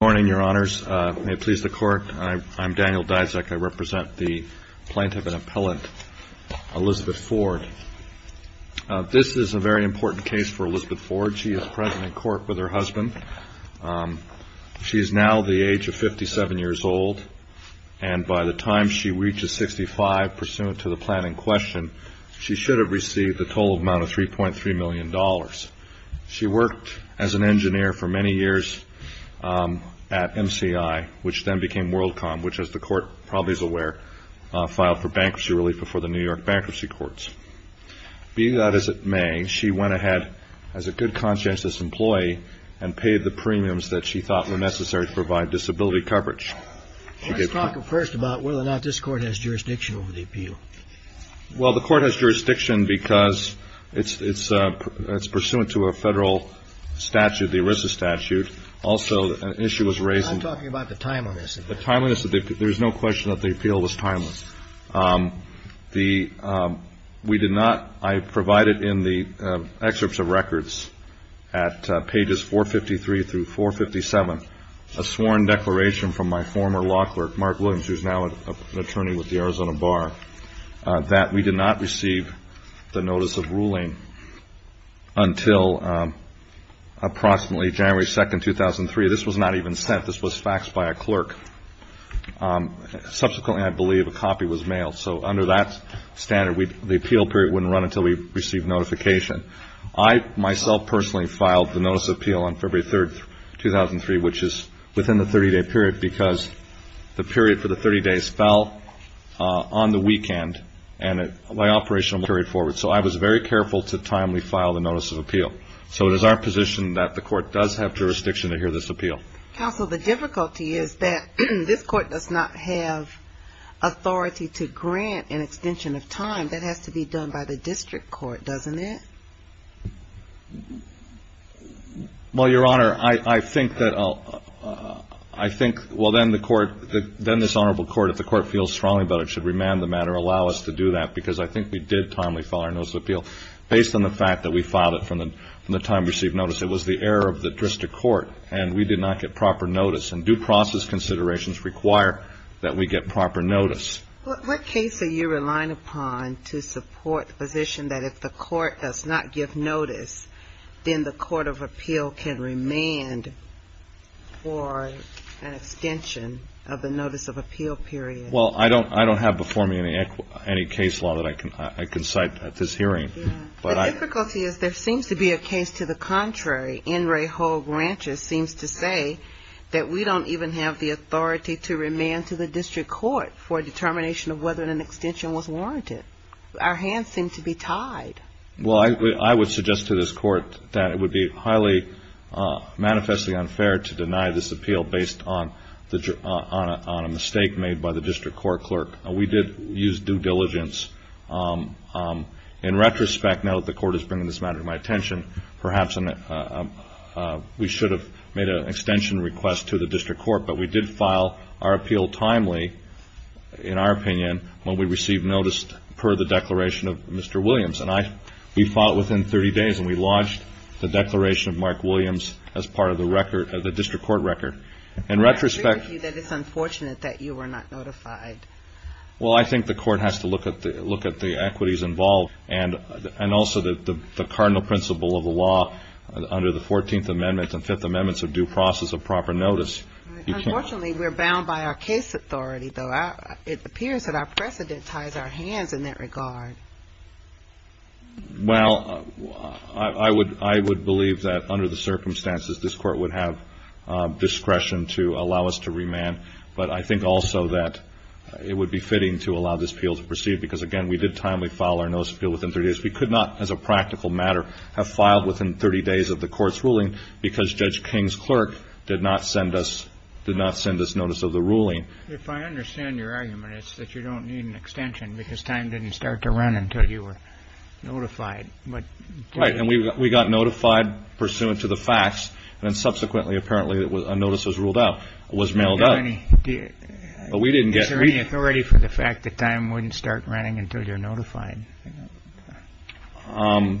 Good morning, Your Honors. May it please the Court, I'm Daniel Dysack. I represent the plaintiff and appellant, Elizabeth Ford. This is a very important case for Elizabeth Ford. She is present in court with her husband. She is now the age of 57 years old, and by the time she reaches 65, pursuant to the plan in question, she should have received the total amount of $3.3 million. She worked as an engineer for many years at MCI, which then became WorldCom, which, as the Court probably is aware, filed for bankruptcy relief before the New York bankruptcy courts. Be that as it may, she went ahead, as a good conscientious employee, and paid the premiums that she thought were necessary to provide disability coverage. Let's talk first about whether or not this Court has jurisdiction over the appeal. Well, the Court has jurisdiction because it's pursuant to a Federal statute, the ERISA statute. Also, an issue was raised in the – I'm talking about the timeliness of it. The timeliness of the – there's no question that the appeal was timeless. The – we did not – I provided in the excerpts of records at pages 453 through 457 a sworn declaration from my former law clerk, Mark Williams, who is now an attorney with the Arizona Bar, that we did not receive the notice of ruling until approximately January 2, 2003. This was not even sent. This was faxed by a clerk. Subsequently, I believe, a copy was mailed. So under that standard, the appeal period wouldn't run until we received notification. I, myself, personally filed the notice of appeal on February 3, 2003, which is within the 30-day period because the period for the 30 days fell on the weekend, and my operation was carried forward. So I was very careful to timely file the notice of appeal. So it is our position that the Court does have jurisdiction to hear this appeal. Counsel, the difficulty is that this Court does not have authority to grant an extension of time. That has to be done by the district court, doesn't it? Well, Your Honor, I think that I'll – I think – well, then the Court – then this Honorable Court, if the Court feels strongly about it, should remand the matter, allow us to do that, because I think we did timely file our notice of appeal. Based on the fact that we filed it from the time we received notice, it was the error of the district court, and we did not get proper notice. And due process considerations require that we get proper notice. What case are you relying upon to support the position that if the Court does not give notice, then the Court of Appeal can remand for an extension of the notice of appeal period? Well, I don't have before me any case law that I can cite at this hearing. The difficulty is there seems to be a case to the contrary. N. Ray Hull Grant just seems to say that we don't even have the authority to remand to the district court for a determination of whether an extension was warranted. Our hands seem to be tied. Well, I would suggest to this Court that it would be highly manifestly unfair to deny this appeal based on a mistake made by the district court clerk. We did use due diligence. In retrospect, now that the Court is bringing this matter to my attention, perhaps we should have made an extension request to the district court, but we did file our appeal timely, in our opinion, when we received notice per the declaration of Mr. Williams. And we filed it within 30 days, and we lodged the declaration of Mark Williams as part of the record, the district court record. I agree with you that it's unfortunate that you were not notified. Well, I think the Court has to look at the equities involved and also the cardinal principle of the law under the 14th Amendment and 5th Amendments of due process of proper notice. Unfortunately, we're bound by our case authority, though. It appears that our precedent ties our hands in that regard. Well, I would believe that under the circumstances, this Court would have discretion to allow us to remand, but I think also that it would be fitting to allow this appeal to proceed because, again, we did timely file our notice appeal within 30 days. We could not, as a practical matter, have filed within 30 days of the Court's ruling because Judge King's clerk did not send us notice of the ruling. If I understand your argument, it's that you don't need an extension because time didn't start to run until you were notified. Right, and we got notified pursuant to the facts, and then subsequently, apparently, a notice was ruled out, was mailed out. Is there any authority for the fact that time wouldn't start running until you're notified? Under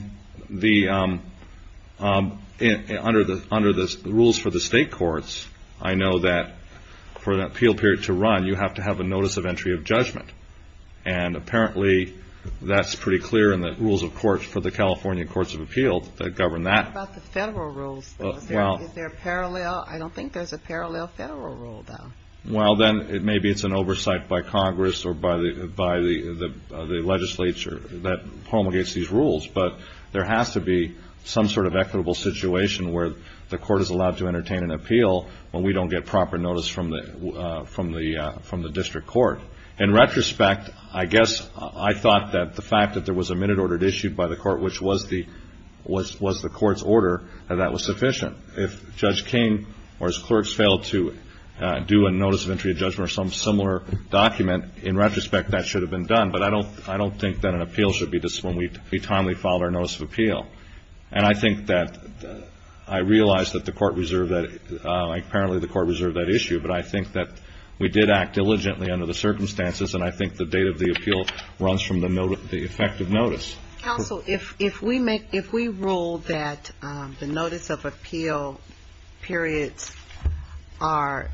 the rules for the state courts, I know that for an appeal period to run, you have to have a notice of entry of judgment, and apparently that's pretty clear in the rules, of course, for the California Courts of Appeal that govern that. What about the federal rules? I don't think there's a parallel federal rule, though. Well, then, maybe it's an oversight by Congress or by the legislature that promulgates these rules, but there has to be some sort of equitable situation where the Court is allowed to entertain an appeal when we don't get proper notice from the district court. In retrospect, I guess I thought that the fact that there was a minute order issued by the Court, which was the Court's order, that that was sufficient. If Judge King or his clerks failed to do a notice of entry of judgment or some similar document, in retrospect, that should have been done, but I don't think that an appeal should be just when we timely file our notice of appeal. And I think that I realize that the Court reserved that. Apparently, the Court reserved that issue, but I think that we did act diligently under the circumstances, and I think the date of the appeal runs from the effective notice. Counsel, if we rule that the notice of appeal periods are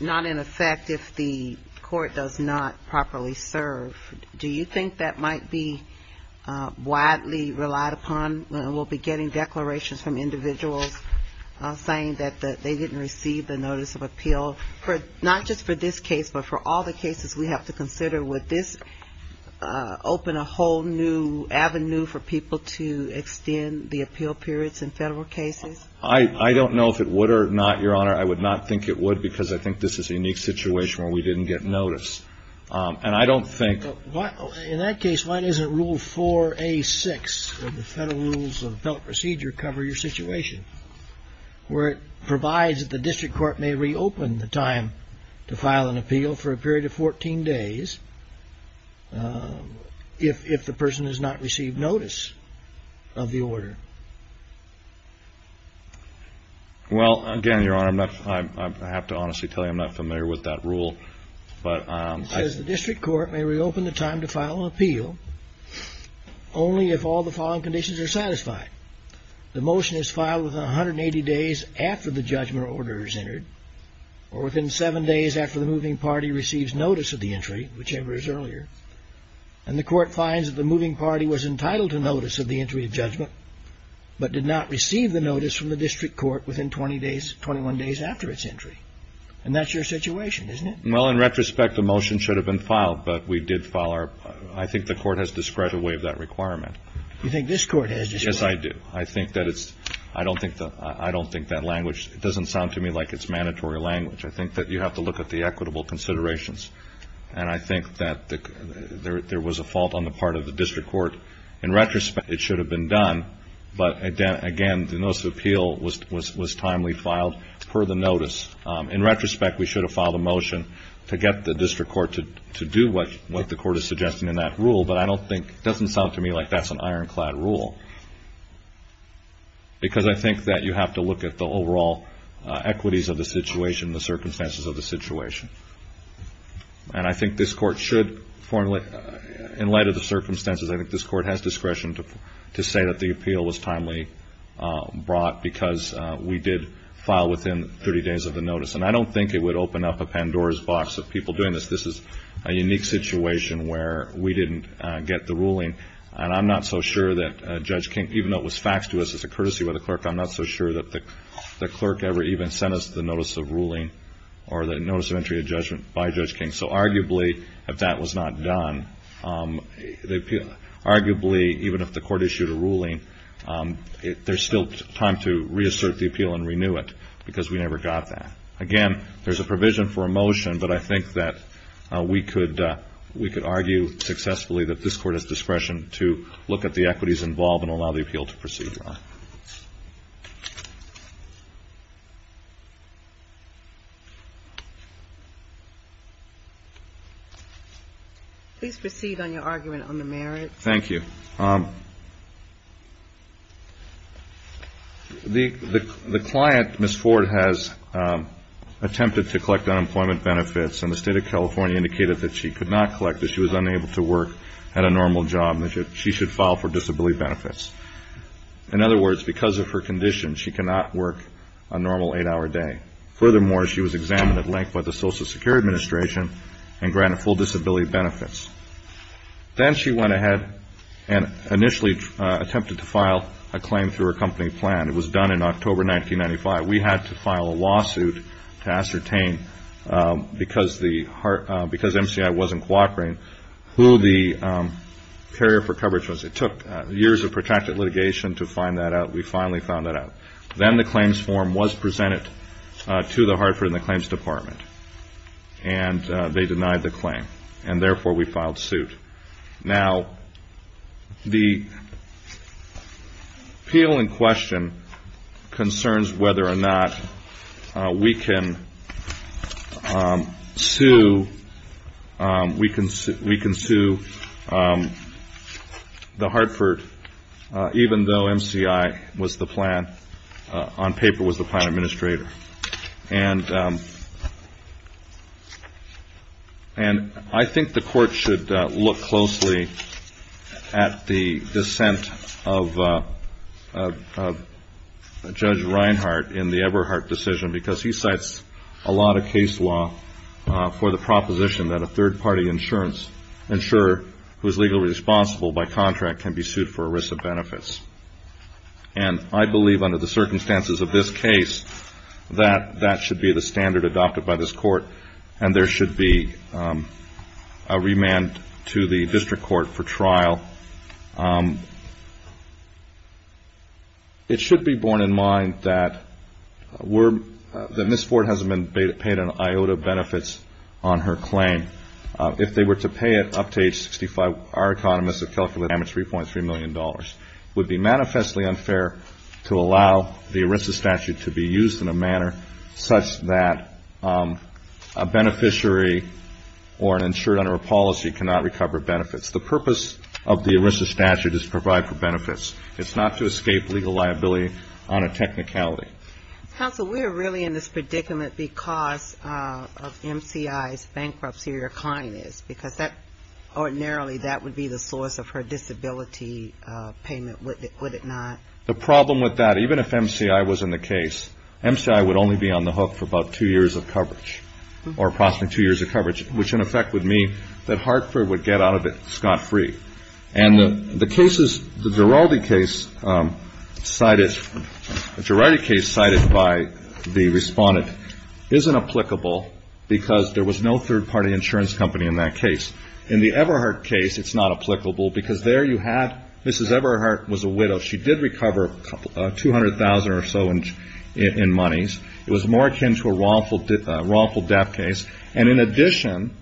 not in effect if the Court does not properly serve, do you think that might be widely relied upon? We'll be getting declarations from individuals saying that they didn't receive the notice of appeal, not just for this case, but for all the cases we have to consider. Would this open a whole new avenue for people to extend the appeal periods in federal cases? I don't know if it would or not, Your Honor. I would not think it would, because I think this is a unique situation where we didn't get notice. And I don't think… In that case, why doesn't Rule 4A6 of the Federal Rules of Appellate Procedure cover your situation, where it provides that the district court may reopen the time to file an appeal for a period of 14 days if the person has not received notice of the order? Well, again, Your Honor, I have to honestly tell you I'm not familiar with that rule. It says the district court may reopen the time to file an appeal only if all the following conditions are satisfied. The motion is filed within 180 days after the judgment order is entered, or within seven days after the moving party receives notice of the entry, whichever is earlier, and the court finds that the moving party was entitled to notice of the entry of judgment but did not receive the notice from the district court within 20 days, 21 days after its entry. And that's your situation, isn't it? Well, in retrospect, the motion should have been filed, but we did file our… I think the court has discredited that requirement. You think this court has discredited it? Yes, I do. I think that it's – I don't think that language – it doesn't sound to me like it's mandatory language. I think that you have to look at the equitable considerations, and I think that there was a fault on the part of the district court. In retrospect, it should have been done, but, again, the notice of appeal was timely filed per the notice. In retrospect, we should have filed a motion to get the district court to do what the court is suggesting in that rule, but I don't think – it doesn't sound to me like that's an ironclad rule because I think that you have to look at the overall equities of the situation, the circumstances of the situation. And I think this court should formally – in light of the circumstances, I think this court has discretion to say that the appeal was timely brought because we did file within 30 days of the notice. And I don't think it would open up a Pandora's box of people doing this. This is a unique situation where we didn't get the ruling, and I'm not so sure that Judge King – even though it was faxed to us as a courtesy by the clerk, I'm not so sure that the clerk ever even sent us the notice of ruling or the notice of entry of judgment by Judge King. So arguably, if that was not done, arguably, even if the court issued a ruling, there's still time to reassert the appeal and renew it because we never got that. Again, there's a provision for a motion, but I think that we could argue successfully that this court has discretion to look at the equities involved and allow the appeal to proceed. Please proceed on your argument on the merits. Thank you. The client, Ms. Ford, has attempted to collect unemployment benefits, and the State of California indicated that she could not collect it. She was unable to work, had a normal job, and that she should file for disability benefits. In other words, because of her condition, she cannot work a normal eight-hour day. Furthermore, she was examined at length by the Social Security Administration and granted full disability benefits. Then she went ahead and initially attempted to file a claim through her company plan. It was done in October 1995. We had to file a lawsuit to ascertain, because MCI wasn't cooperating, who the carrier for coverage was. It took years of protracted litigation to find that out. We finally found that out. Then the claims form was presented to the Hartford and the Claims Department, and they denied the claim. And therefore, we filed suit. Now, the appeal in question concerns whether or not we can sue the Hartford, even though MCI was the plan, on paper was the plan administrator. And I think the Court should look closely at the dissent of Judge Reinhart in the Eberhardt decision, because he cites a lot of case law for the proposition that a third-party insurer, who is legally responsible by contract, can be sued for a risk of benefits. And I believe, under the circumstances of this case, that that should be the standard adopted by this Court, and there should be a remand to the District Court for trial. It should be borne in mind that Ms. Ford hasn't been paid in IOTA benefits on her claim. If they were to pay it up to age 65, our economists have calculated damage of $3.3 million. It would be manifestly unfair to allow the ERISA statute to be used in a manner such that a beneficiary or an insurer under a policy cannot recover benefits. The purpose of the ERISA statute is to provide for benefits. It's not to escape legal liability on a technicality. Counsel, we are really in this predicament because of MCI's bankruptcy or kindness, because ordinarily that would be the source of her disability payment, would it not? The problem with that, even if MCI was in the case, MCI would only be on the hook for about two years of coverage, or approximately two years of coverage, which in effect would mean that Hartford would get out of it scot-free. And the cases, the Giraldi case cited, the Giraldi case cited by the respondent, isn't applicable because there was no third-party insurance company in that case. In the Eberhardt case, it's not applicable because there you have Mrs. Eberhardt was a widow. She did recover $200,000 or so in monies. It was more akin to a wrongful death case. And in addition,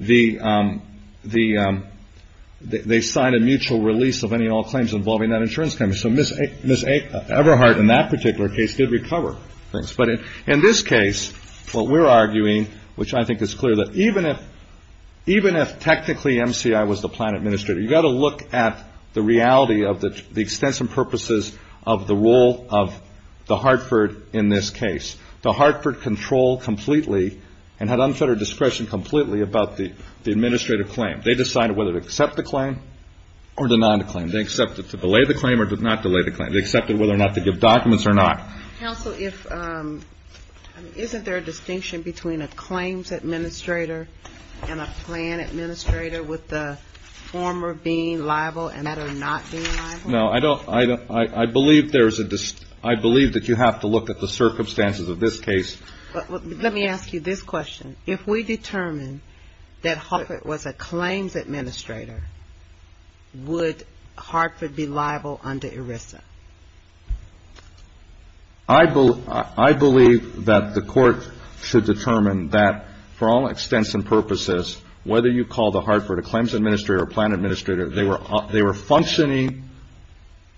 they signed a mutual release of any and all claims involving that insurance company. So Mrs. Eberhardt in that particular case did recover things. But in this case, what we're arguing, which I think is clear, that even if technically MCI was the plan administrator, you've got to look at the reality of the extensive purposes of the role of the Hartford in this case. The Hartford controlled completely and had unfettered discretion completely about the administrative claim. They decided whether to accept the claim or deny the claim. They accepted to delay the claim or not delay the claim. They accepted whether or not to give documents or not. Counsel, isn't there a distinction between a claims administrator and a plan administrator, with the former being liable and the latter not being liable? No, I believe that you have to look at the circumstances of this case. Let me ask you this question. If we determine that Hartford was a claims administrator, would Hartford be liable under ERISA? I believe that the court should determine that for all extents and purposes, whether you call the Hartford a claims administrator or a plan administrator, they were functioning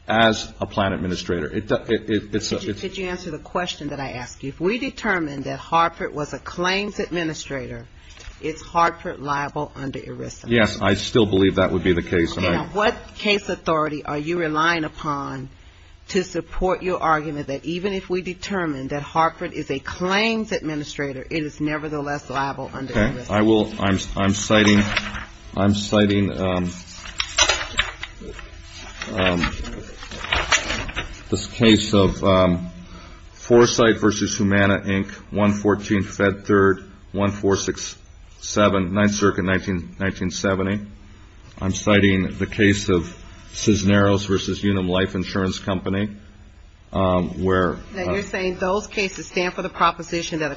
as a plan administrator. Did you answer the question that I asked you? If we determine that Hartford was a claims administrator, is Hartford liable under ERISA? Yes, I still believe that would be the case. Now, what case authority are you relying upon to support your argument that even if we determine that Hartford is a claims administrator, it is nevertheless liable under ERISA? Okay. I'm citing this case of Foresight v. Humana, Inc., 114 Fed 3rd, 1467, 9th Circuit, 1970. I'm citing the case of Cisneros v. Unum Life Insurance Company, where ---- They stand for the proposition that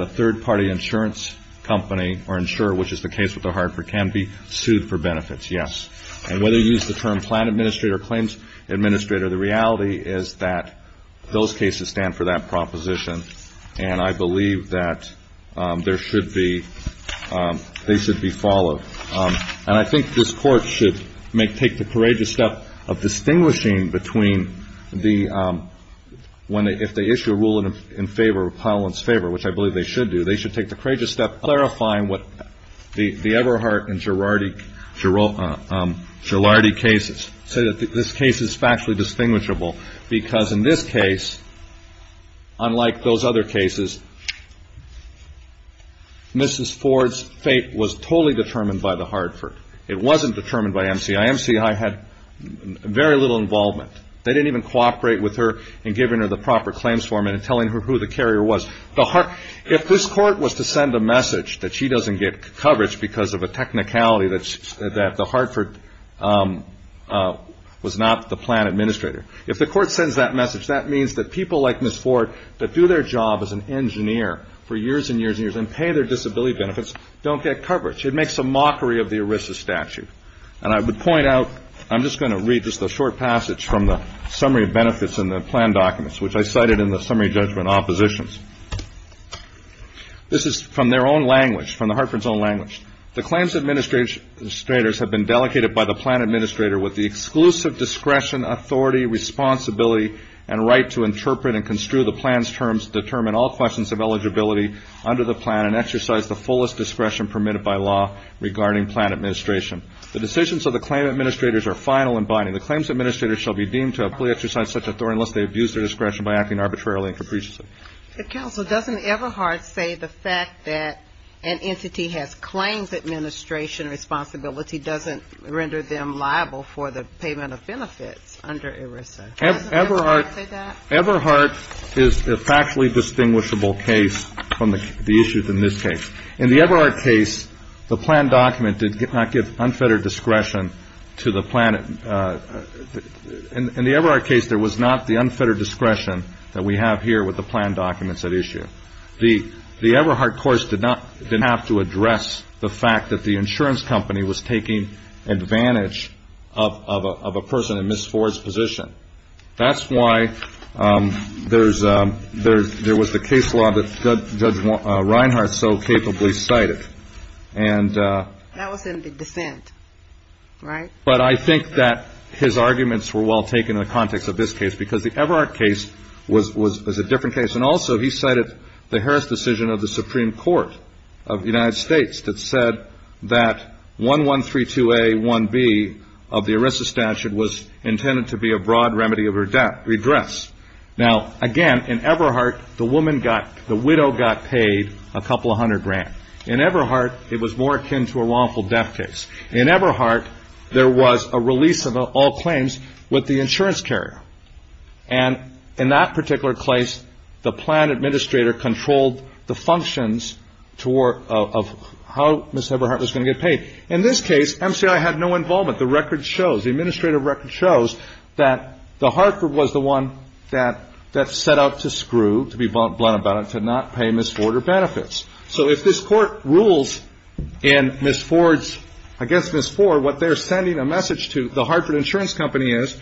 a third-party insurance company or insurer, which is the case with the Hartford, can be sued for benefits. Yes. And whether you use the term plan administrator or claims administrator, the reality is that those cases stand for that proposition, and I believe that there should be ---- they should be followed. And I think this Court should take the courageous step of distinguishing between the ---- if they issue a ruling in favor, a repellent's favor, which I believe they should do, they should take the courageous step of clarifying what the Everhart and Girardi cases say that this case is factually distinguishable, because in this case, unlike those other cases, Mrs. Ford's fate was totally determined by the Hartford. It wasn't determined by MCI. MCI had very little involvement. They didn't even cooperate with her in giving her the proper claims format and telling her who the carrier was. If this Court was to send a message that she doesn't get coverage because of a technicality that the Hartford was not the plan administrator, if the Court sends that message, that means that people like Mrs. Ford that do their job as an engineer for years and years and years and pay their disability benefits don't get coverage. It makes a mockery of the ERISA statute. And I would point out, I'm just going to read just a short passage from the summary of benefits in the plan documents, which I cited in the summary judgment oppositions. This is from their own language, from the Hartford's own language. The claims administrators have been delegated by the plan administrator with the exclusive discretion, authority, responsibility, and right to interpret and construe the plan's terms, determine all questions of eligibility under the plan, and exercise the fullest discretion permitted by law regarding plan administration. The decisions of the claim administrators are final and binding. The claims administrator shall be deemed to have fully exercised such authority unless they abuse their discretion by acting arbitrarily and capriciously. Counsel, doesn't Eberhardt say the fact that an entity has claims administration responsibility doesn't render them liable for the payment of benefits under ERISA? Doesn't Eberhardt say that? Eberhardt is a factually distinguishable case from the issues in this case. In the Eberhardt case, the plan document did not give unfettered discretion to the plan. In the Eberhardt case, there was not the unfettered discretion that we have here with the plan documents at issue. The Eberhardt course did not have to address the fact that the insurance company was taking advantage of a person in Ms. Ford's position. That's why there was the case law that Judge Reinhart so capably cited. That was in the dissent, right? But I think that his arguments were well taken in the context of this case because the Eberhardt case was a different case. And also, he cited the Harris decision of the Supreme Court of the United States that said that 1132A1B of the ERISA statute was intended to be a broad remedy of redress. Now, again, in Eberhardt, the widow got paid a couple of hundred grand. In Eberhardt, it was more akin to a wrongful death case. In Eberhardt, there was a release of all claims with the insurance carrier. And in that particular case, the plan administrator controlled the functions of how Ms. Eberhardt was going to get paid. In this case, MCI had no involvement. The record shows, the administrative record shows that the Hartford was the one that set out to screw, to be blunt about it, to not pay Ms. Ford her benefits. So if this Court rules in Ms. Ford's – I guess Ms. Ford, what they're sending a message to the Hartford Insurance Company is,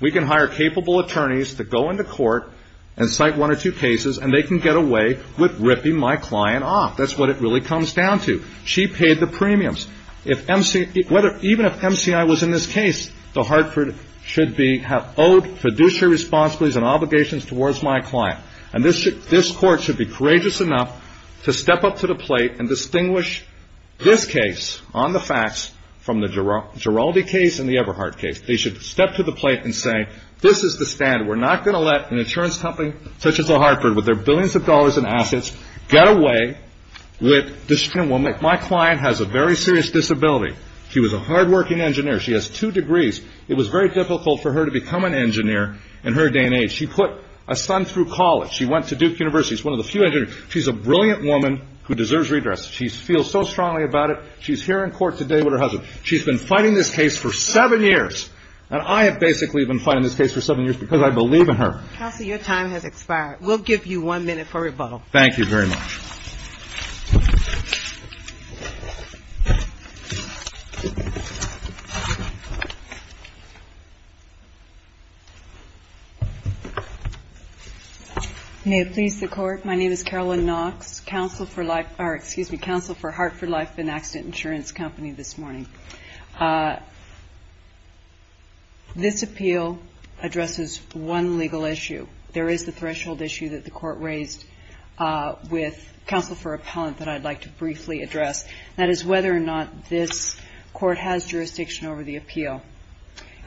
we can hire capable attorneys to go into court and cite one or two cases, and they can get away with ripping my client off. That's what it really comes down to. She paid the premiums. If MC – even if MCI was in this case, the Hartford should be – have owed fiduciary responsibilities and obligations towards my client. And this Court should be courageous enough to step up to the plate and distinguish this case on the facts from the Giroldi case and the Eberhardt case. They should step to the plate and say, this is the standard. We're not going to let an insurance company such as the Hartford, with their billions of dollars in assets, get away with – my client has a very serious disability. She was a hardworking engineer. She has two degrees. It was very difficult for her to become an engineer in her day and age. She put a son through college. She went to Duke University. She's one of the few engineers. She's a brilliant woman who deserves redress. She feels so strongly about it. She's here in court today with her husband. She's been fighting this case for seven years, and I have basically been fighting this case for seven years because I believe in her. Kelsey, your time has expired. We'll give you one minute for rebuttal. Thank you very much. May it please the Court. My name is Carolyn Knox, counsel for Hartford Life and Accident Insurance Company this morning. This appeal addresses one legal issue. There is the threshold issue that the Court raised with counsel for appellant that I'd like to briefly address, and that is whether or not this Court has jurisdiction over the appeal.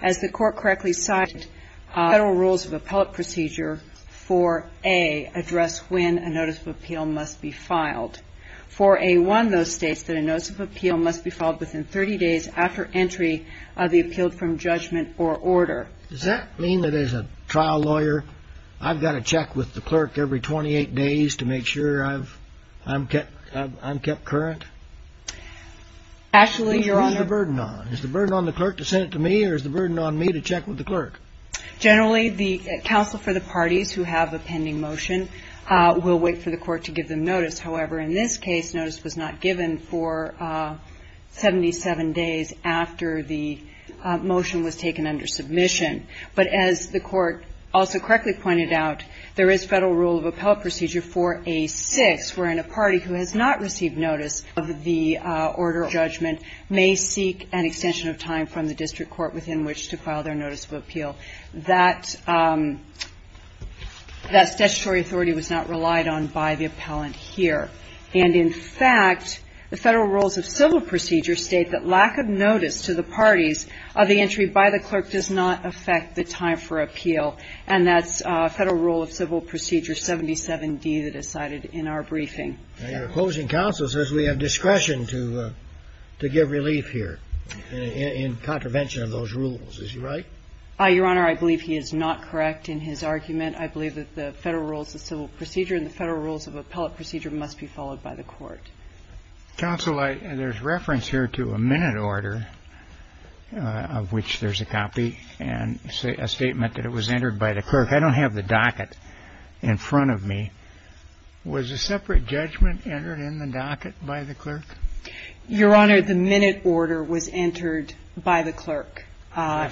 As the Court correctly cited, federal rules of appellate procedure for A address when a notice of appeal must be filed. For A1, though, states that a notice of appeal must be filed within 30 days after entry of the appeal from judgment or order. Does that mean that as a trial lawyer, I've got to check with the clerk every 28 days to make sure I'm kept current? Actually, Your Honor. What's the burden on? Is the burden on the clerk to send it to me, or is the burden on me to check with the clerk? Generally, the counsel for the parties who have a pending motion will wait for the Court to give them notice. However, in this case, notice was not given for 77 days after the motion was taken under submission. But as the Court also correctly pointed out, there is federal rule of appellate procedure for A6, wherein a party who has not received notice of the order of judgment may seek an extension of time from the district court within which to file their notice of appeal. That statutory authority was not relied on by the appellant here. And, in fact, the federal rules of civil procedure state that lack of notice to the parties of the entry by the clerk does not affect the time for appeal. And that's federal rule of civil procedure 77D that is cited in our briefing. Your opposing counsel says we have discretion to give relief here in contravention of those rules. Is he right? Your Honor, I believe he is not correct in his argument. I believe that the federal rules of civil procedure and the federal rules of appellate procedure must be followed by the Court. Counsel, there's reference here to a minute order of which there's a copy and a statement that it was entered by the clerk. I don't have the docket in front of me. Was a separate judgment entered in the docket by the clerk? Did that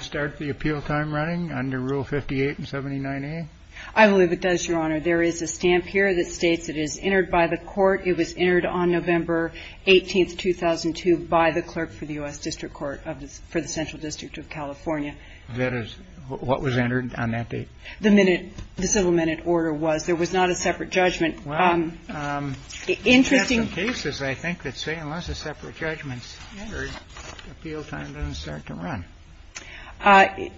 start the appeal time running under Rule 58 and 79A? I believe it does, Your Honor. There is a stamp here that states it is entered by the Court. It was entered on November 18, 2002, by the clerk for the U.S. District Court of the Central District of California. That is what was entered on that date? The minute, the civil minute order was. There was not a separate judgment. Interesting. There are some cases, I think, that say unless a separate judgment is entered, the appeal time doesn't start to run.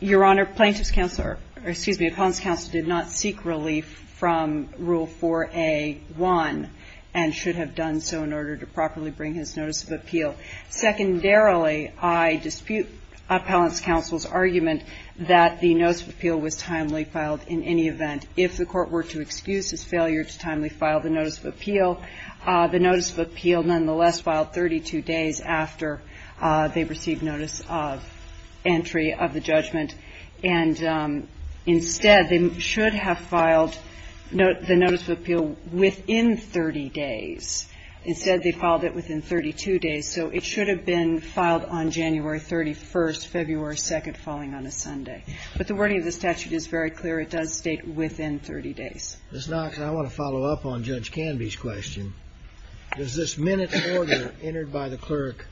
Your Honor, plaintiff's counsel or, excuse me, appellant's counsel did not seek relief from Rule 4A1 and should have done so in order to properly bring his notice of appeal. Secondarily, I dispute appellant's counsel's argument that the notice of appeal was timely filed in any event. And if the Court were to excuse his failure to timely file the notice of appeal, the notice of appeal nonetheless filed 32 days after they received notice of entry of the judgment, and instead, they should have filed the notice of appeal within 30 days. Instead, they filed it within 32 days. So it should have been filed on January 31, February 2, falling on a Sunday. But the wording of the statute is very clear. It does state within 30 days. Ms. Knox, I want to follow up on Judge Canby's question. Does this minutes order entered by the clerk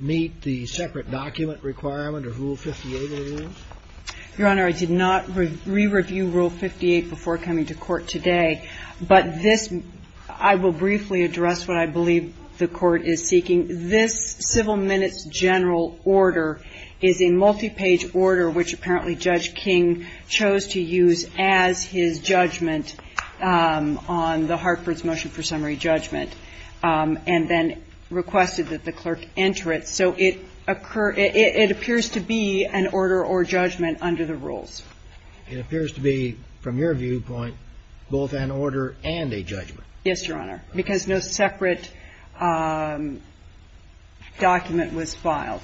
meet the separate document requirement of Rule 58 of the rules? Your Honor, I did not re-review Rule 58 before coming to court today. But this, I will briefly address what I believe the Court is seeking. This civil minutes general order is a multi-page order which apparently Judge King chose to use as his judgment on the Hartford's motion for summary judgment, and then requested that the clerk enter it. So it occurs – it appears to be an order or judgment under the rules. It appears to be, from your viewpoint, both an order and a judgment. Yes, Your Honor, because no separate document was filed.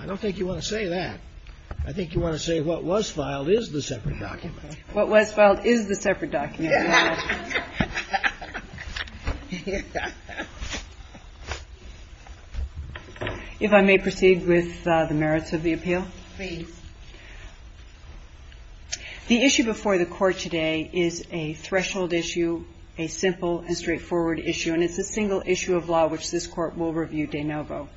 I don't think you want to say that. I think you want to say what was filed is the separate document. What was filed is the separate document. Your Honor. If I may proceed with the merits of the appeal? Please. The issue before the Court today is a threshold issue, a simple and straightforward issue, and it's a single issue of law which this Court will review de novo.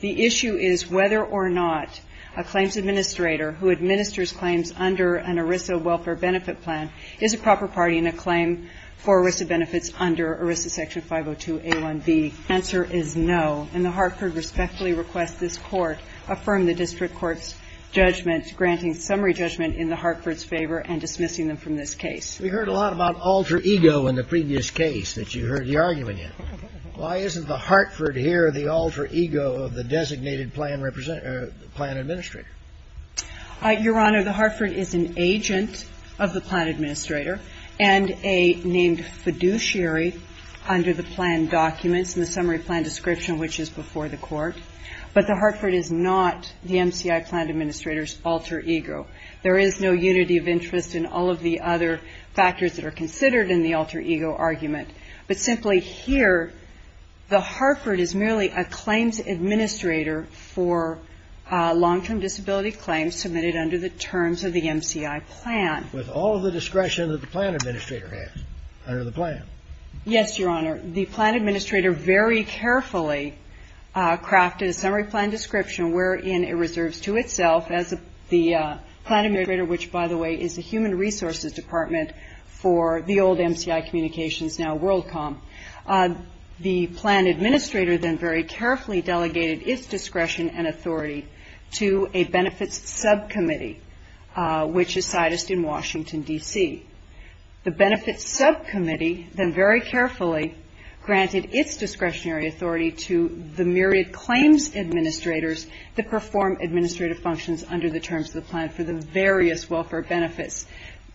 The issue is whether or not a claims administrator who administers claims under an ERISA welfare benefit plan is a proper party in a claim for ERISA benefits under ERISA Section 502a1b. The answer is no, and the Hartford respectfully requests this Court affirm the district court's judgment granting summary judgment in the Hartford's favor and dismissing them from this case. We heard a lot about alter ego in the previous case that you heard the argument Why isn't the Hartford here the alter ego of the designated plan administrator? Your Honor, the Hartford is an agent of the plan administrator and a named fiduciary under the plan documents in the summary plan description, which is before the Court. But the Hartford is not the MCI plan administrator's alter ego. There is no unity of interest in all of the other factors that are considered in the alter ego argument. But simply here, the Hartford is merely a claims administrator for long-term disability claims submitted under the terms of the MCI plan. With all of the discretion that the plan administrator has under the plan. Yes, Your Honor. The plan administrator very carefully crafted a summary plan description wherein it reserves to itself as the plan administrator, which, by the way, is the old MCI communications, now Worldcom. The plan administrator then very carefully delegated its discretion and authority to a benefits subcommittee, which is sited in Washington, D.C. The benefits subcommittee then very carefully granted its discretionary authority to the myriad claims administrators that perform administrative functions under the terms of the plan for the various welfare benefits.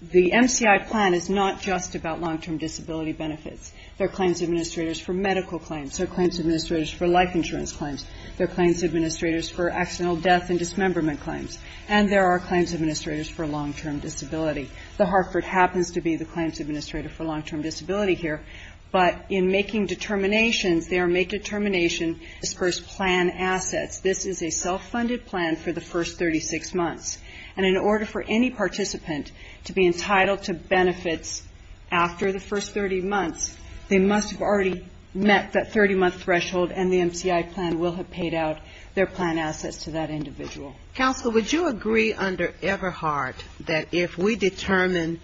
The MCI plan is not just about long-term disability benefits. There are claims administrators for medical claims. There are claims administrators for life insurance claims. There are claims administrators for accidental death and dismemberment claims. And there are claims administrators for long-term disability. The Hartford happens to be the claims administrator for long-term disability here. But in making determinations, they are made determination as first plan assets. This is a self-funded plan for the first 36 months. And in order for any participant to be entitled to benefits after the first 30 months, they must have already met that 30-month threshold, and the MCI plan will have paid out their plan assets to that individual. Counsel, would you agree under Everhart that if we determine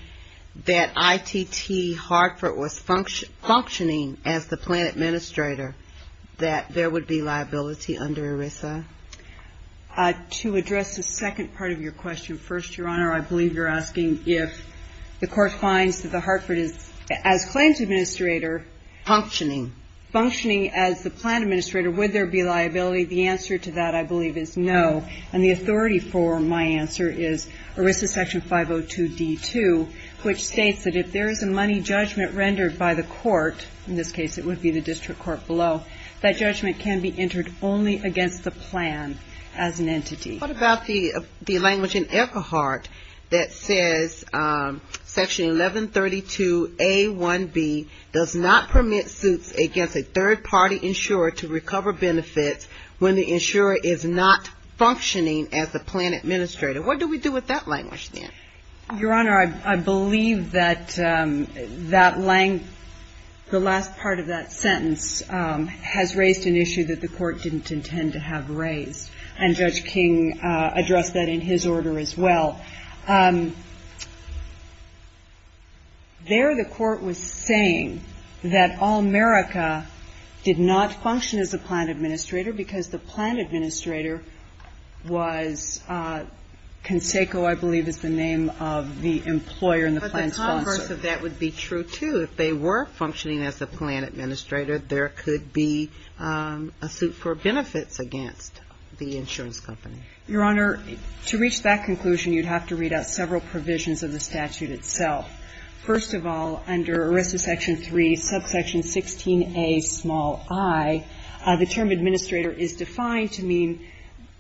that ITT Hartford was functioning as the plan administrator, that there would be liability under ERISA? To address the second part of your question, first, Your Honor, I believe you're asking if the court finds that the Hartford is, as claims administrator Functioning. Functioning as the plan administrator, would there be liability? The answer to that, I believe, is no. And the authority for my answer is ERISA section 502D2, which states that if there is a money judgment rendered by the court, in this case it would be the district court below, that judgment can be entered only against the plan as an entity. What about the language in Everhart that says section 1132A1B does not permit suits against a third-party insurer to recover benefits when the insurer is not functioning as the plan administrator? What do we do with that language then? Your Honor, I believe that that language, the last part of that sentence, has raised an issue that the court didn't intend to have raised. And Judge King addressed that in his order as well. There the court was saying that Allmerica did not function as a plan administrator because the plan administrator was Conseco, I believe is the name of the employer and the plan sponsor. But the converse of that would be true, too. If they were functioning as a plan administrator, there could be a suit for benefits against the insurance company. Your Honor, to reach that conclusion, you'd have to read out several provisions of the statute itself. First of all, under ERISA section 3, subsection 16A, small i, the term administrator is defined to mean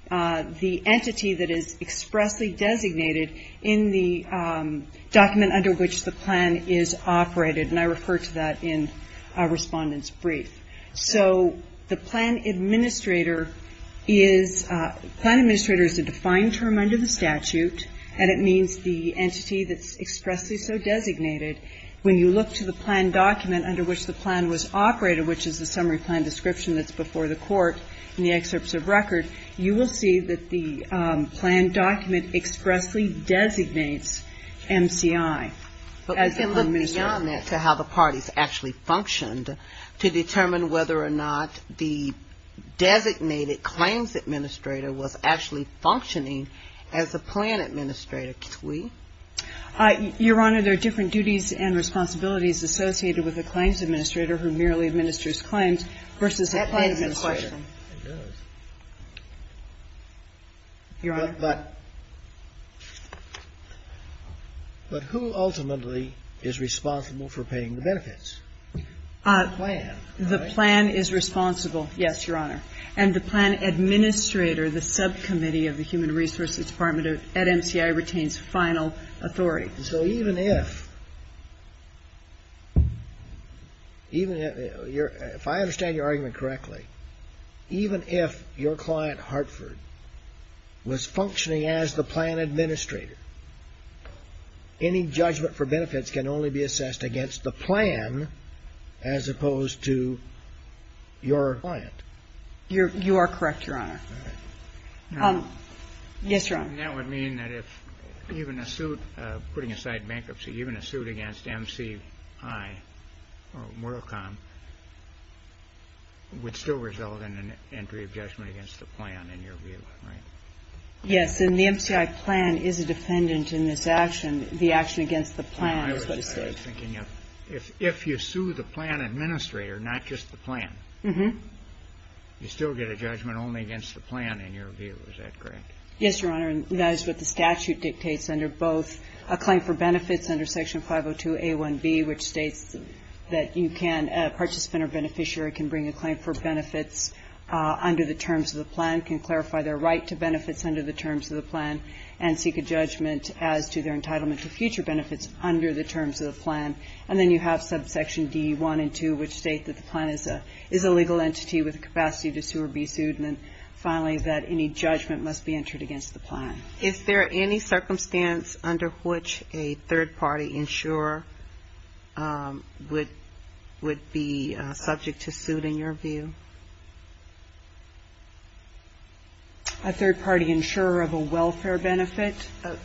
the entity that is expressly designated in the document under which the plan is operated. And I refer to that in our Respondent's Brief. So the plan administrator is a defined term under the statute, and it means the entity that's expressly so designated. When you look to the plan document under which the plan was operated, which is the summary plan description that's before the court in the excerpts of record, you will see that the plan document expressly designates MCI as a plan administrator. But we can look beyond that to how the parties actually functioned to determine whether or not the designated claims administrator was actually functioning as a plan administrator. Could we? Your Honor, there are different duties and responsibilities associated with a claims administrator who merely administers claims versus a plan administrator. It does. Your Honor. But who ultimately is responsible for paying the benefits? The plan, right? The plan is responsible, yes, Your Honor. And the plan administrator, the subcommittee of the Human Resources Department at MCI, retains final authority. So even if I understand your argument correctly, even if your client Hartford was functioning as the plan administrator, any judgment for benefits can only be assessed against the plan as opposed to your client. You are correct, Your Honor. Yes, Your Honor. And that would mean that if even a suit, putting aside bankruptcy, even a suit against MCI or MoralCom, would still result in an entry of judgment against the plan in your view, right? Yes, and the MCI plan is a defendant in this action. The action against the plan is what is sued. I was thinking if you sue the plan administrator, not just the plan, you still get a judgment only against the plan in your view. Is that correct? Yes, Your Honor. And that is what the statute dictates under both a claim for benefits under Section 502A1B, which states that you can, a participant or beneficiary, can bring a claim for benefits under the terms of the plan, can clarify their right to benefits under the terms of the plan, and seek a judgment as to their entitlement to future benefits under the terms of the plan. And then you have subsection D1 and 2, which state that the plan is a legal entity with the capacity to sue or be sued. And then finally, that any judgment must be entered against the plan. Is there any circumstance under which a third-party insurer would be subject to suit in your view? A third-party insurer of a welfare benefit? An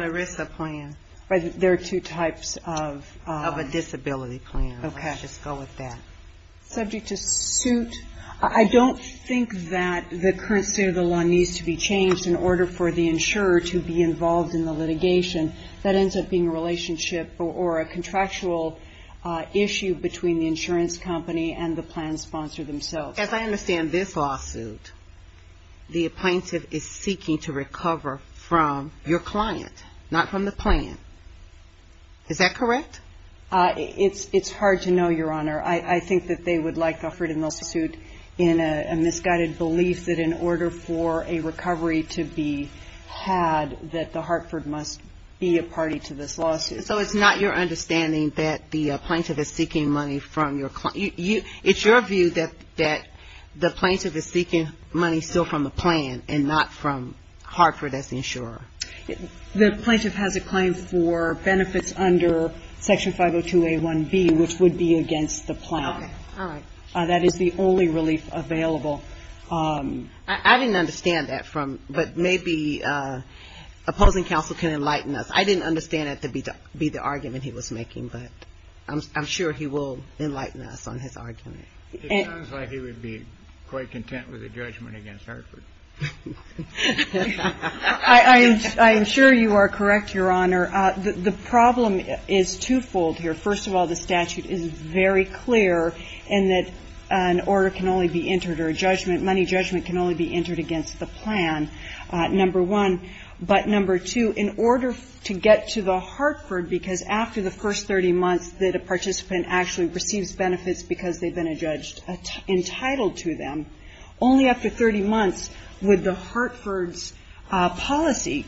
ERISA plan. There are two types of – Of a disability plan. Okay. Let's just go with that. Subject to suit. I don't think that the current state of the law needs to be changed in order for the insurer to be involved in the litigation. That ends up being a relationship or a contractual issue between the insurance company and the plan sponsor themselves. As I understand this lawsuit, the appointee is seeking to recover from your client, not from the plan. Is that correct? It's hard to know, Your Honor. I think that they would like to offer them a suit in a misguided belief that in order for a recovery to be had, that the Hartford must be a party to this lawsuit. So it's not your understanding that the plaintiff is seeking money from your client. It's your view that the plaintiff is seeking money still from the plan and not from Hartford as the insurer. The plaintiff has a claim for benefits under Section 502A1B, which would be against the plan. Okay. All right. That is the only relief available. I didn't understand that from – but maybe opposing counsel can enlighten us. I didn't understand that to be the argument he was making, but I'm sure he will enlighten us on his argument. It sounds like he would be quite content with a judgment against Hartford. I am sure you are correct, Your Honor. The problem is twofold here. First of all, the statute is very clear in that an order can only be entered or a judgment, money judgment can only be entered against the plan, number one. But number two, in order to get to the Hartford, because after the first 30 months that a participant actually receives benefits because they've been entitled to them, only after 30 months would the Hartford's policy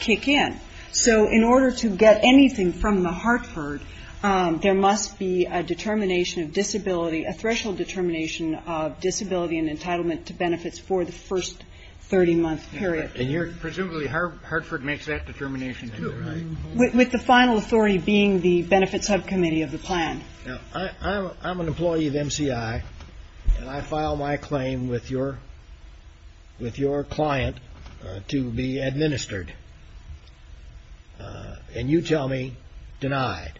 kick in. So in order to get anything from the Hartford, there must be a determination of disability, a threshold determination of disability and entitlement to benefits for the first 30-month period. And you're – presumably Hartford makes that determination, is that right? With the final authority being the benefits subcommittee of the plan. Now, I'm an employee of MCI, and I file my claim with your client to be administered, and you tell me denied.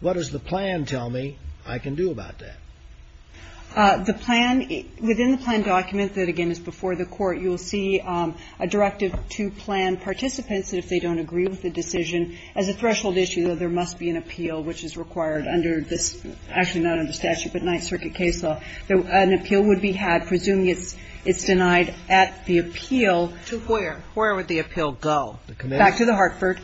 What does the plan tell me I can do about that? The plan – within the plan document that, again, is before the court, you will see a directive to plan participants that if they don't agree with the decision, as a threshold issue, though, there must be an appeal, which is required under this – actually not under statute, but Ninth Circuit case law. An appeal would be had, presuming it's denied at the appeal. To where? Where would the appeal go? Back to the Hartford.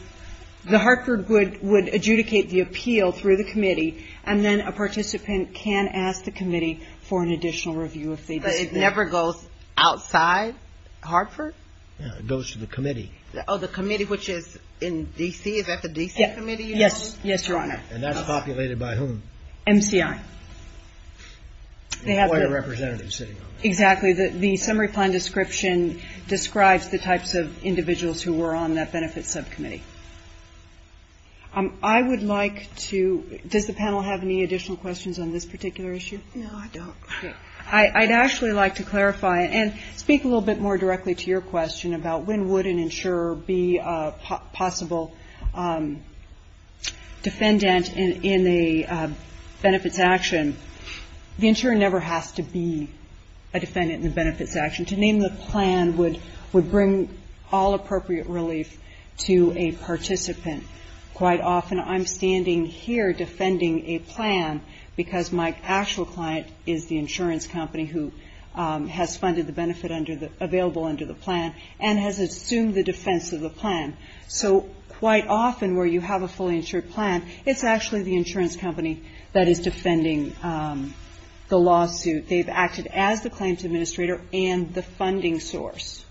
The Hartford would adjudicate the appeal through the committee, and then a participant can ask the committee for an additional review if they disagree. But it never goes outside Hartford? It goes to the committee. Oh, the committee, which is in D.C.? Is that the D.C. committee you're talking about? Yes, Your Honor. And that's populated by whom? MCI. You have quite a representative sitting on that. Exactly. The summary plan description describes the types of individuals who were on that benefits subcommittee. I would like to – does the panel have any additional questions on this particular issue? No, I don't. I'd actually like to clarify and speak a little bit more directly to your question about when would an insurer be a possible defendant in a benefits action. The insurer never has to be a defendant in a benefits action. To name the plan would bring all appropriate relief to a participant. Quite often I'm standing here defending a plan because my actual client is the insurance company who has funded the benefit available under the plan and has assumed the defense of the plan. So quite often where you have a fully insured plan, it's actually the insurance company that is defending the lawsuit. They've acted as the claims administrator and the funding source.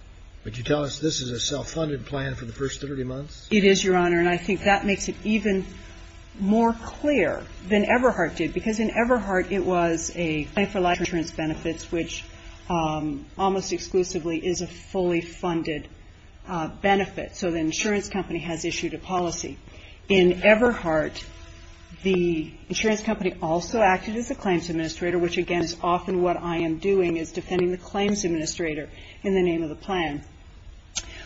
But you tell us this is a self-funded plan for the first 30 months? It is, Your Honor. And I think that makes it even more clear than Everhart did, because in Everhart it was a plan for life insurance benefits, which almost exclusively is a fully funded benefit. So the insurance company has issued a policy. In Everhart, the insurance company also acted as the claims administrator, which again is often what I am doing is defending the claims administrator in the name of the plan.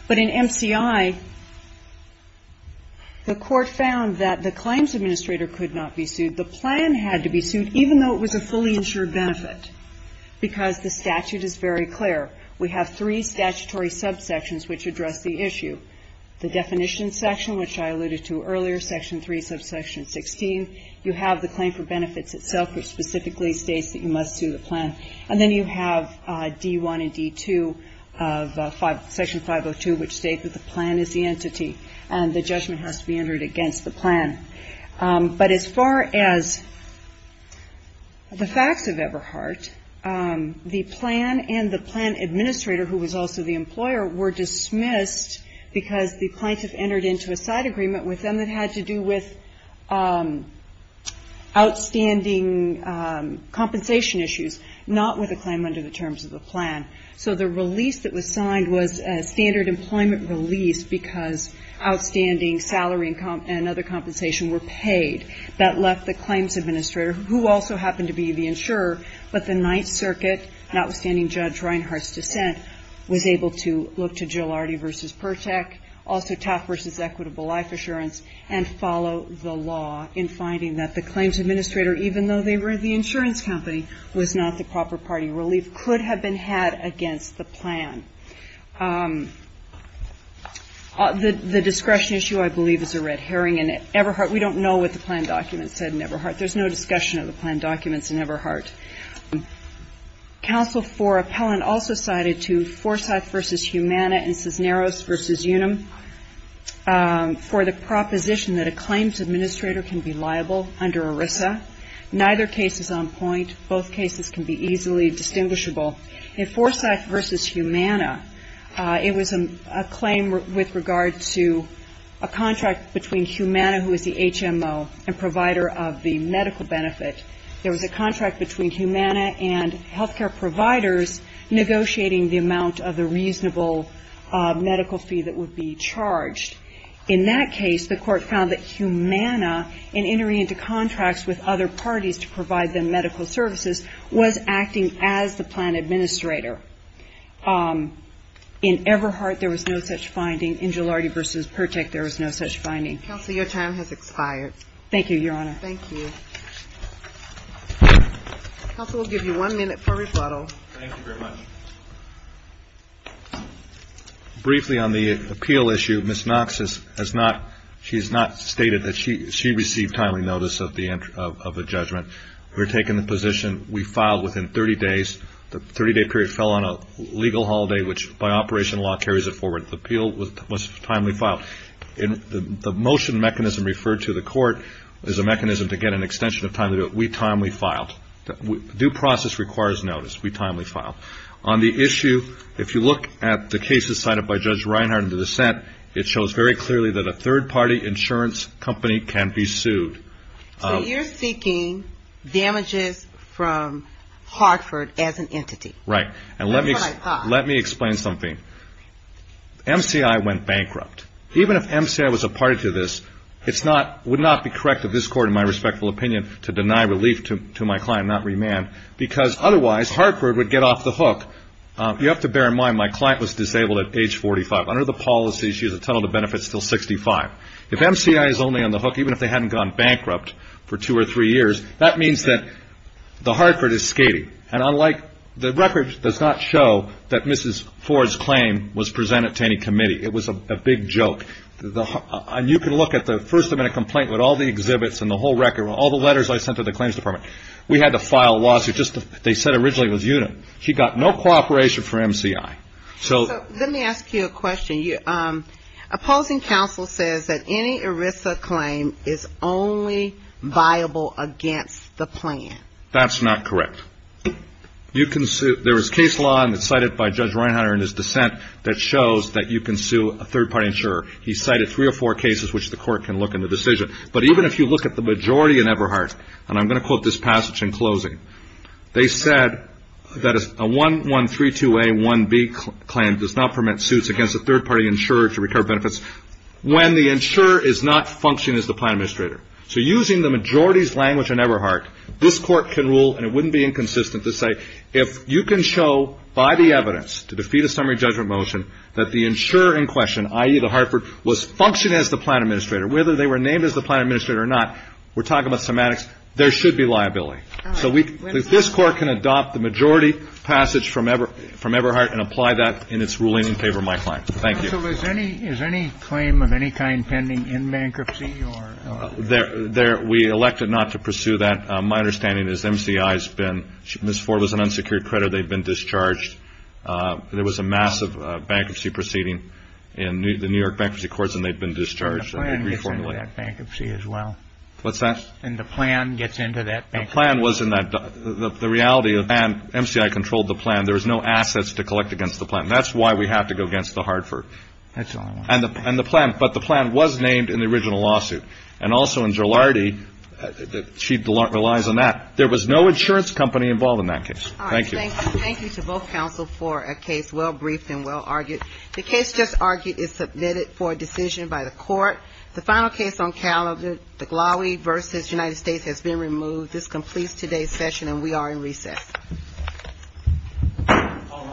But in MCI, the court found that the claims administrator could not be sued. The plan had to be sued, even though it was a fully insured benefit, because the statute is very clear. We have three statutory subsections which address the issue. The definition section, which I alluded to earlier, Section 3, subsection 16. You have the claim for benefits itself, which specifically states that you must sue the plan. And then you have D1 and D2 of Section 502, which states that the plan is the entity and the judgment has to be entered against the plan. But as far as the facts of Everhart, the plan and the plan administrator, who was also the employer, were dismissed because the plaintiff entered into a side agreement with them that had to do with outstanding compensation issues, not with a claim under the terms of the plan. So the release that was signed was a standard employment release because outstanding salary and other compensation were paid. That left the claims administrator, who also happened to be the insurer, but the Ninth Circuit, notwithstanding Judge Reinhart's dissent, was able to look to Jilardi v. Pertek, also Taft v. Equitable Life Assurance, and follow the law in finding that the claims administrator, even though they were the insurance company, was not the proper party. Relief could have been had against the plan. The discretion issue, I believe, is a red herring in Everhart. We don't know what the plan document said in Everhart. There's no discussion of the plan documents in Everhart. Counsel for Appellant also cited to Forsyth v. Humana and Cisneros v. Unum for the proposition that a claims administrator can be liable under ERISA. Neither case is on point. Both cases can be easily distinguishable. In Forsyth v. Humana, it was a claim with regard to a contract between Humana, who is the HMO, and provider of the medical benefit. There was a contract between Humana and health care providers negotiating the amount of the reasonable medical fee that would be charged. In that case, the Court found that Humana, in entering into contracts with other parties to provide them medical services, was acting as the plan administrator. In Everhart, there was no such finding. In Gilardi v. Pertek, there was no such finding. Counsel, your time has expired. Thank you, Your Honor. Thank you. Counsel, we'll give you one minute for rebuttal. Thank you very much. Briefly on the appeal issue, Ms. Knox has not, she has not stated that she received timely notice of a judgment. We're taking the position we filed within 30 days. The 30-day period fell on a legal holiday, which by operation law carries it forward. The appeal was timely filed. The motion mechanism referred to the Court is a mechanism to get an extension of time to do it. We timely filed. Due process requires notice. We timely filed. On the issue, if you look at the cases cited by Judge Reinhart in the dissent, it shows very clearly that a third-party insurance company can be sued. So you're seeking damages from Hartford as an entity. Right. That's what I thought. Let me explain something. MCI went bankrupt. Even if MCI was a party to this, it would not be correct of this Court, in my respectful opinion, to deny relief to my client, not remand, because otherwise Hartford would get off the hook. You have to bear in mind my client was disabled at age 45. Under the policy, she has a total of benefits until 65. If MCI is only on the hook, even if they hadn't gone bankrupt for two or three years, that means that Hartford is skating. And the record does not show that Mrs. Ford's claim was presented to any committee. It was a big joke. And you can look at the first amendment complaint with all the exhibits and the whole record and all the letters I sent to the claims department. We had to file a lawsuit. They said originally it was unit. She got no cooperation from MCI. So let me ask you a question. Opposing counsel says that any ERISA claim is only viable against the plan. That's not correct. There is case law, and it's cited by Judge Reinhardt in his dissent, that shows that you can sue a third-party insurer. He cited three or four cases which the Court can look in the decision. But even if you look at the majority in Everhart, and I'm going to quote this passage in closing, they said that a 1132A, 1B claim does not permit suits against a third-party insurer to recover benefits when the insurer is not functioning as the plan administrator. So using the majority's language in Everhart, this Court can rule, and it wouldn't be inconsistent to say if you can show by the evidence to defeat a summary judgment motion that the insurer in question, i.e. the Hartford, was functioning as the plan administrator, whether they were named as the plan administrator or not, we're talking about semantics, there should be liability. So this Court can adopt the majority passage from Everhart and apply that in its ruling in favor of my client. Thank you. So is any claim of any kind pending in bankruptcy? We elected not to pursue that. My understanding is MCI has been, Ms. Ford was an unsecured creditor. They've been discharged. There was a massive bankruptcy proceeding in the New York Bankruptcy Courts, and they've been discharged. And the plan gets into that bankruptcy as well. What's that? And the plan gets into that bankruptcy. The plan was in that, the reality of the plan, MCI controlled the plan. There was no assets to collect against the plan. That's why we have to go against the Hartford. That's all I want to know. And the plan, but the plan was named in the original lawsuit. And also in Giulardi, she relies on that. There was no insurance company involved in that case. Thank you. All right. Thank you. Thank you to both counsel for a case well-briefed and well-argued. The case just argued is submitted for a decision by the Court. The final case on calendar, the Glowie v. United States, has been removed. This completes today's session, and we are in recess. All rise.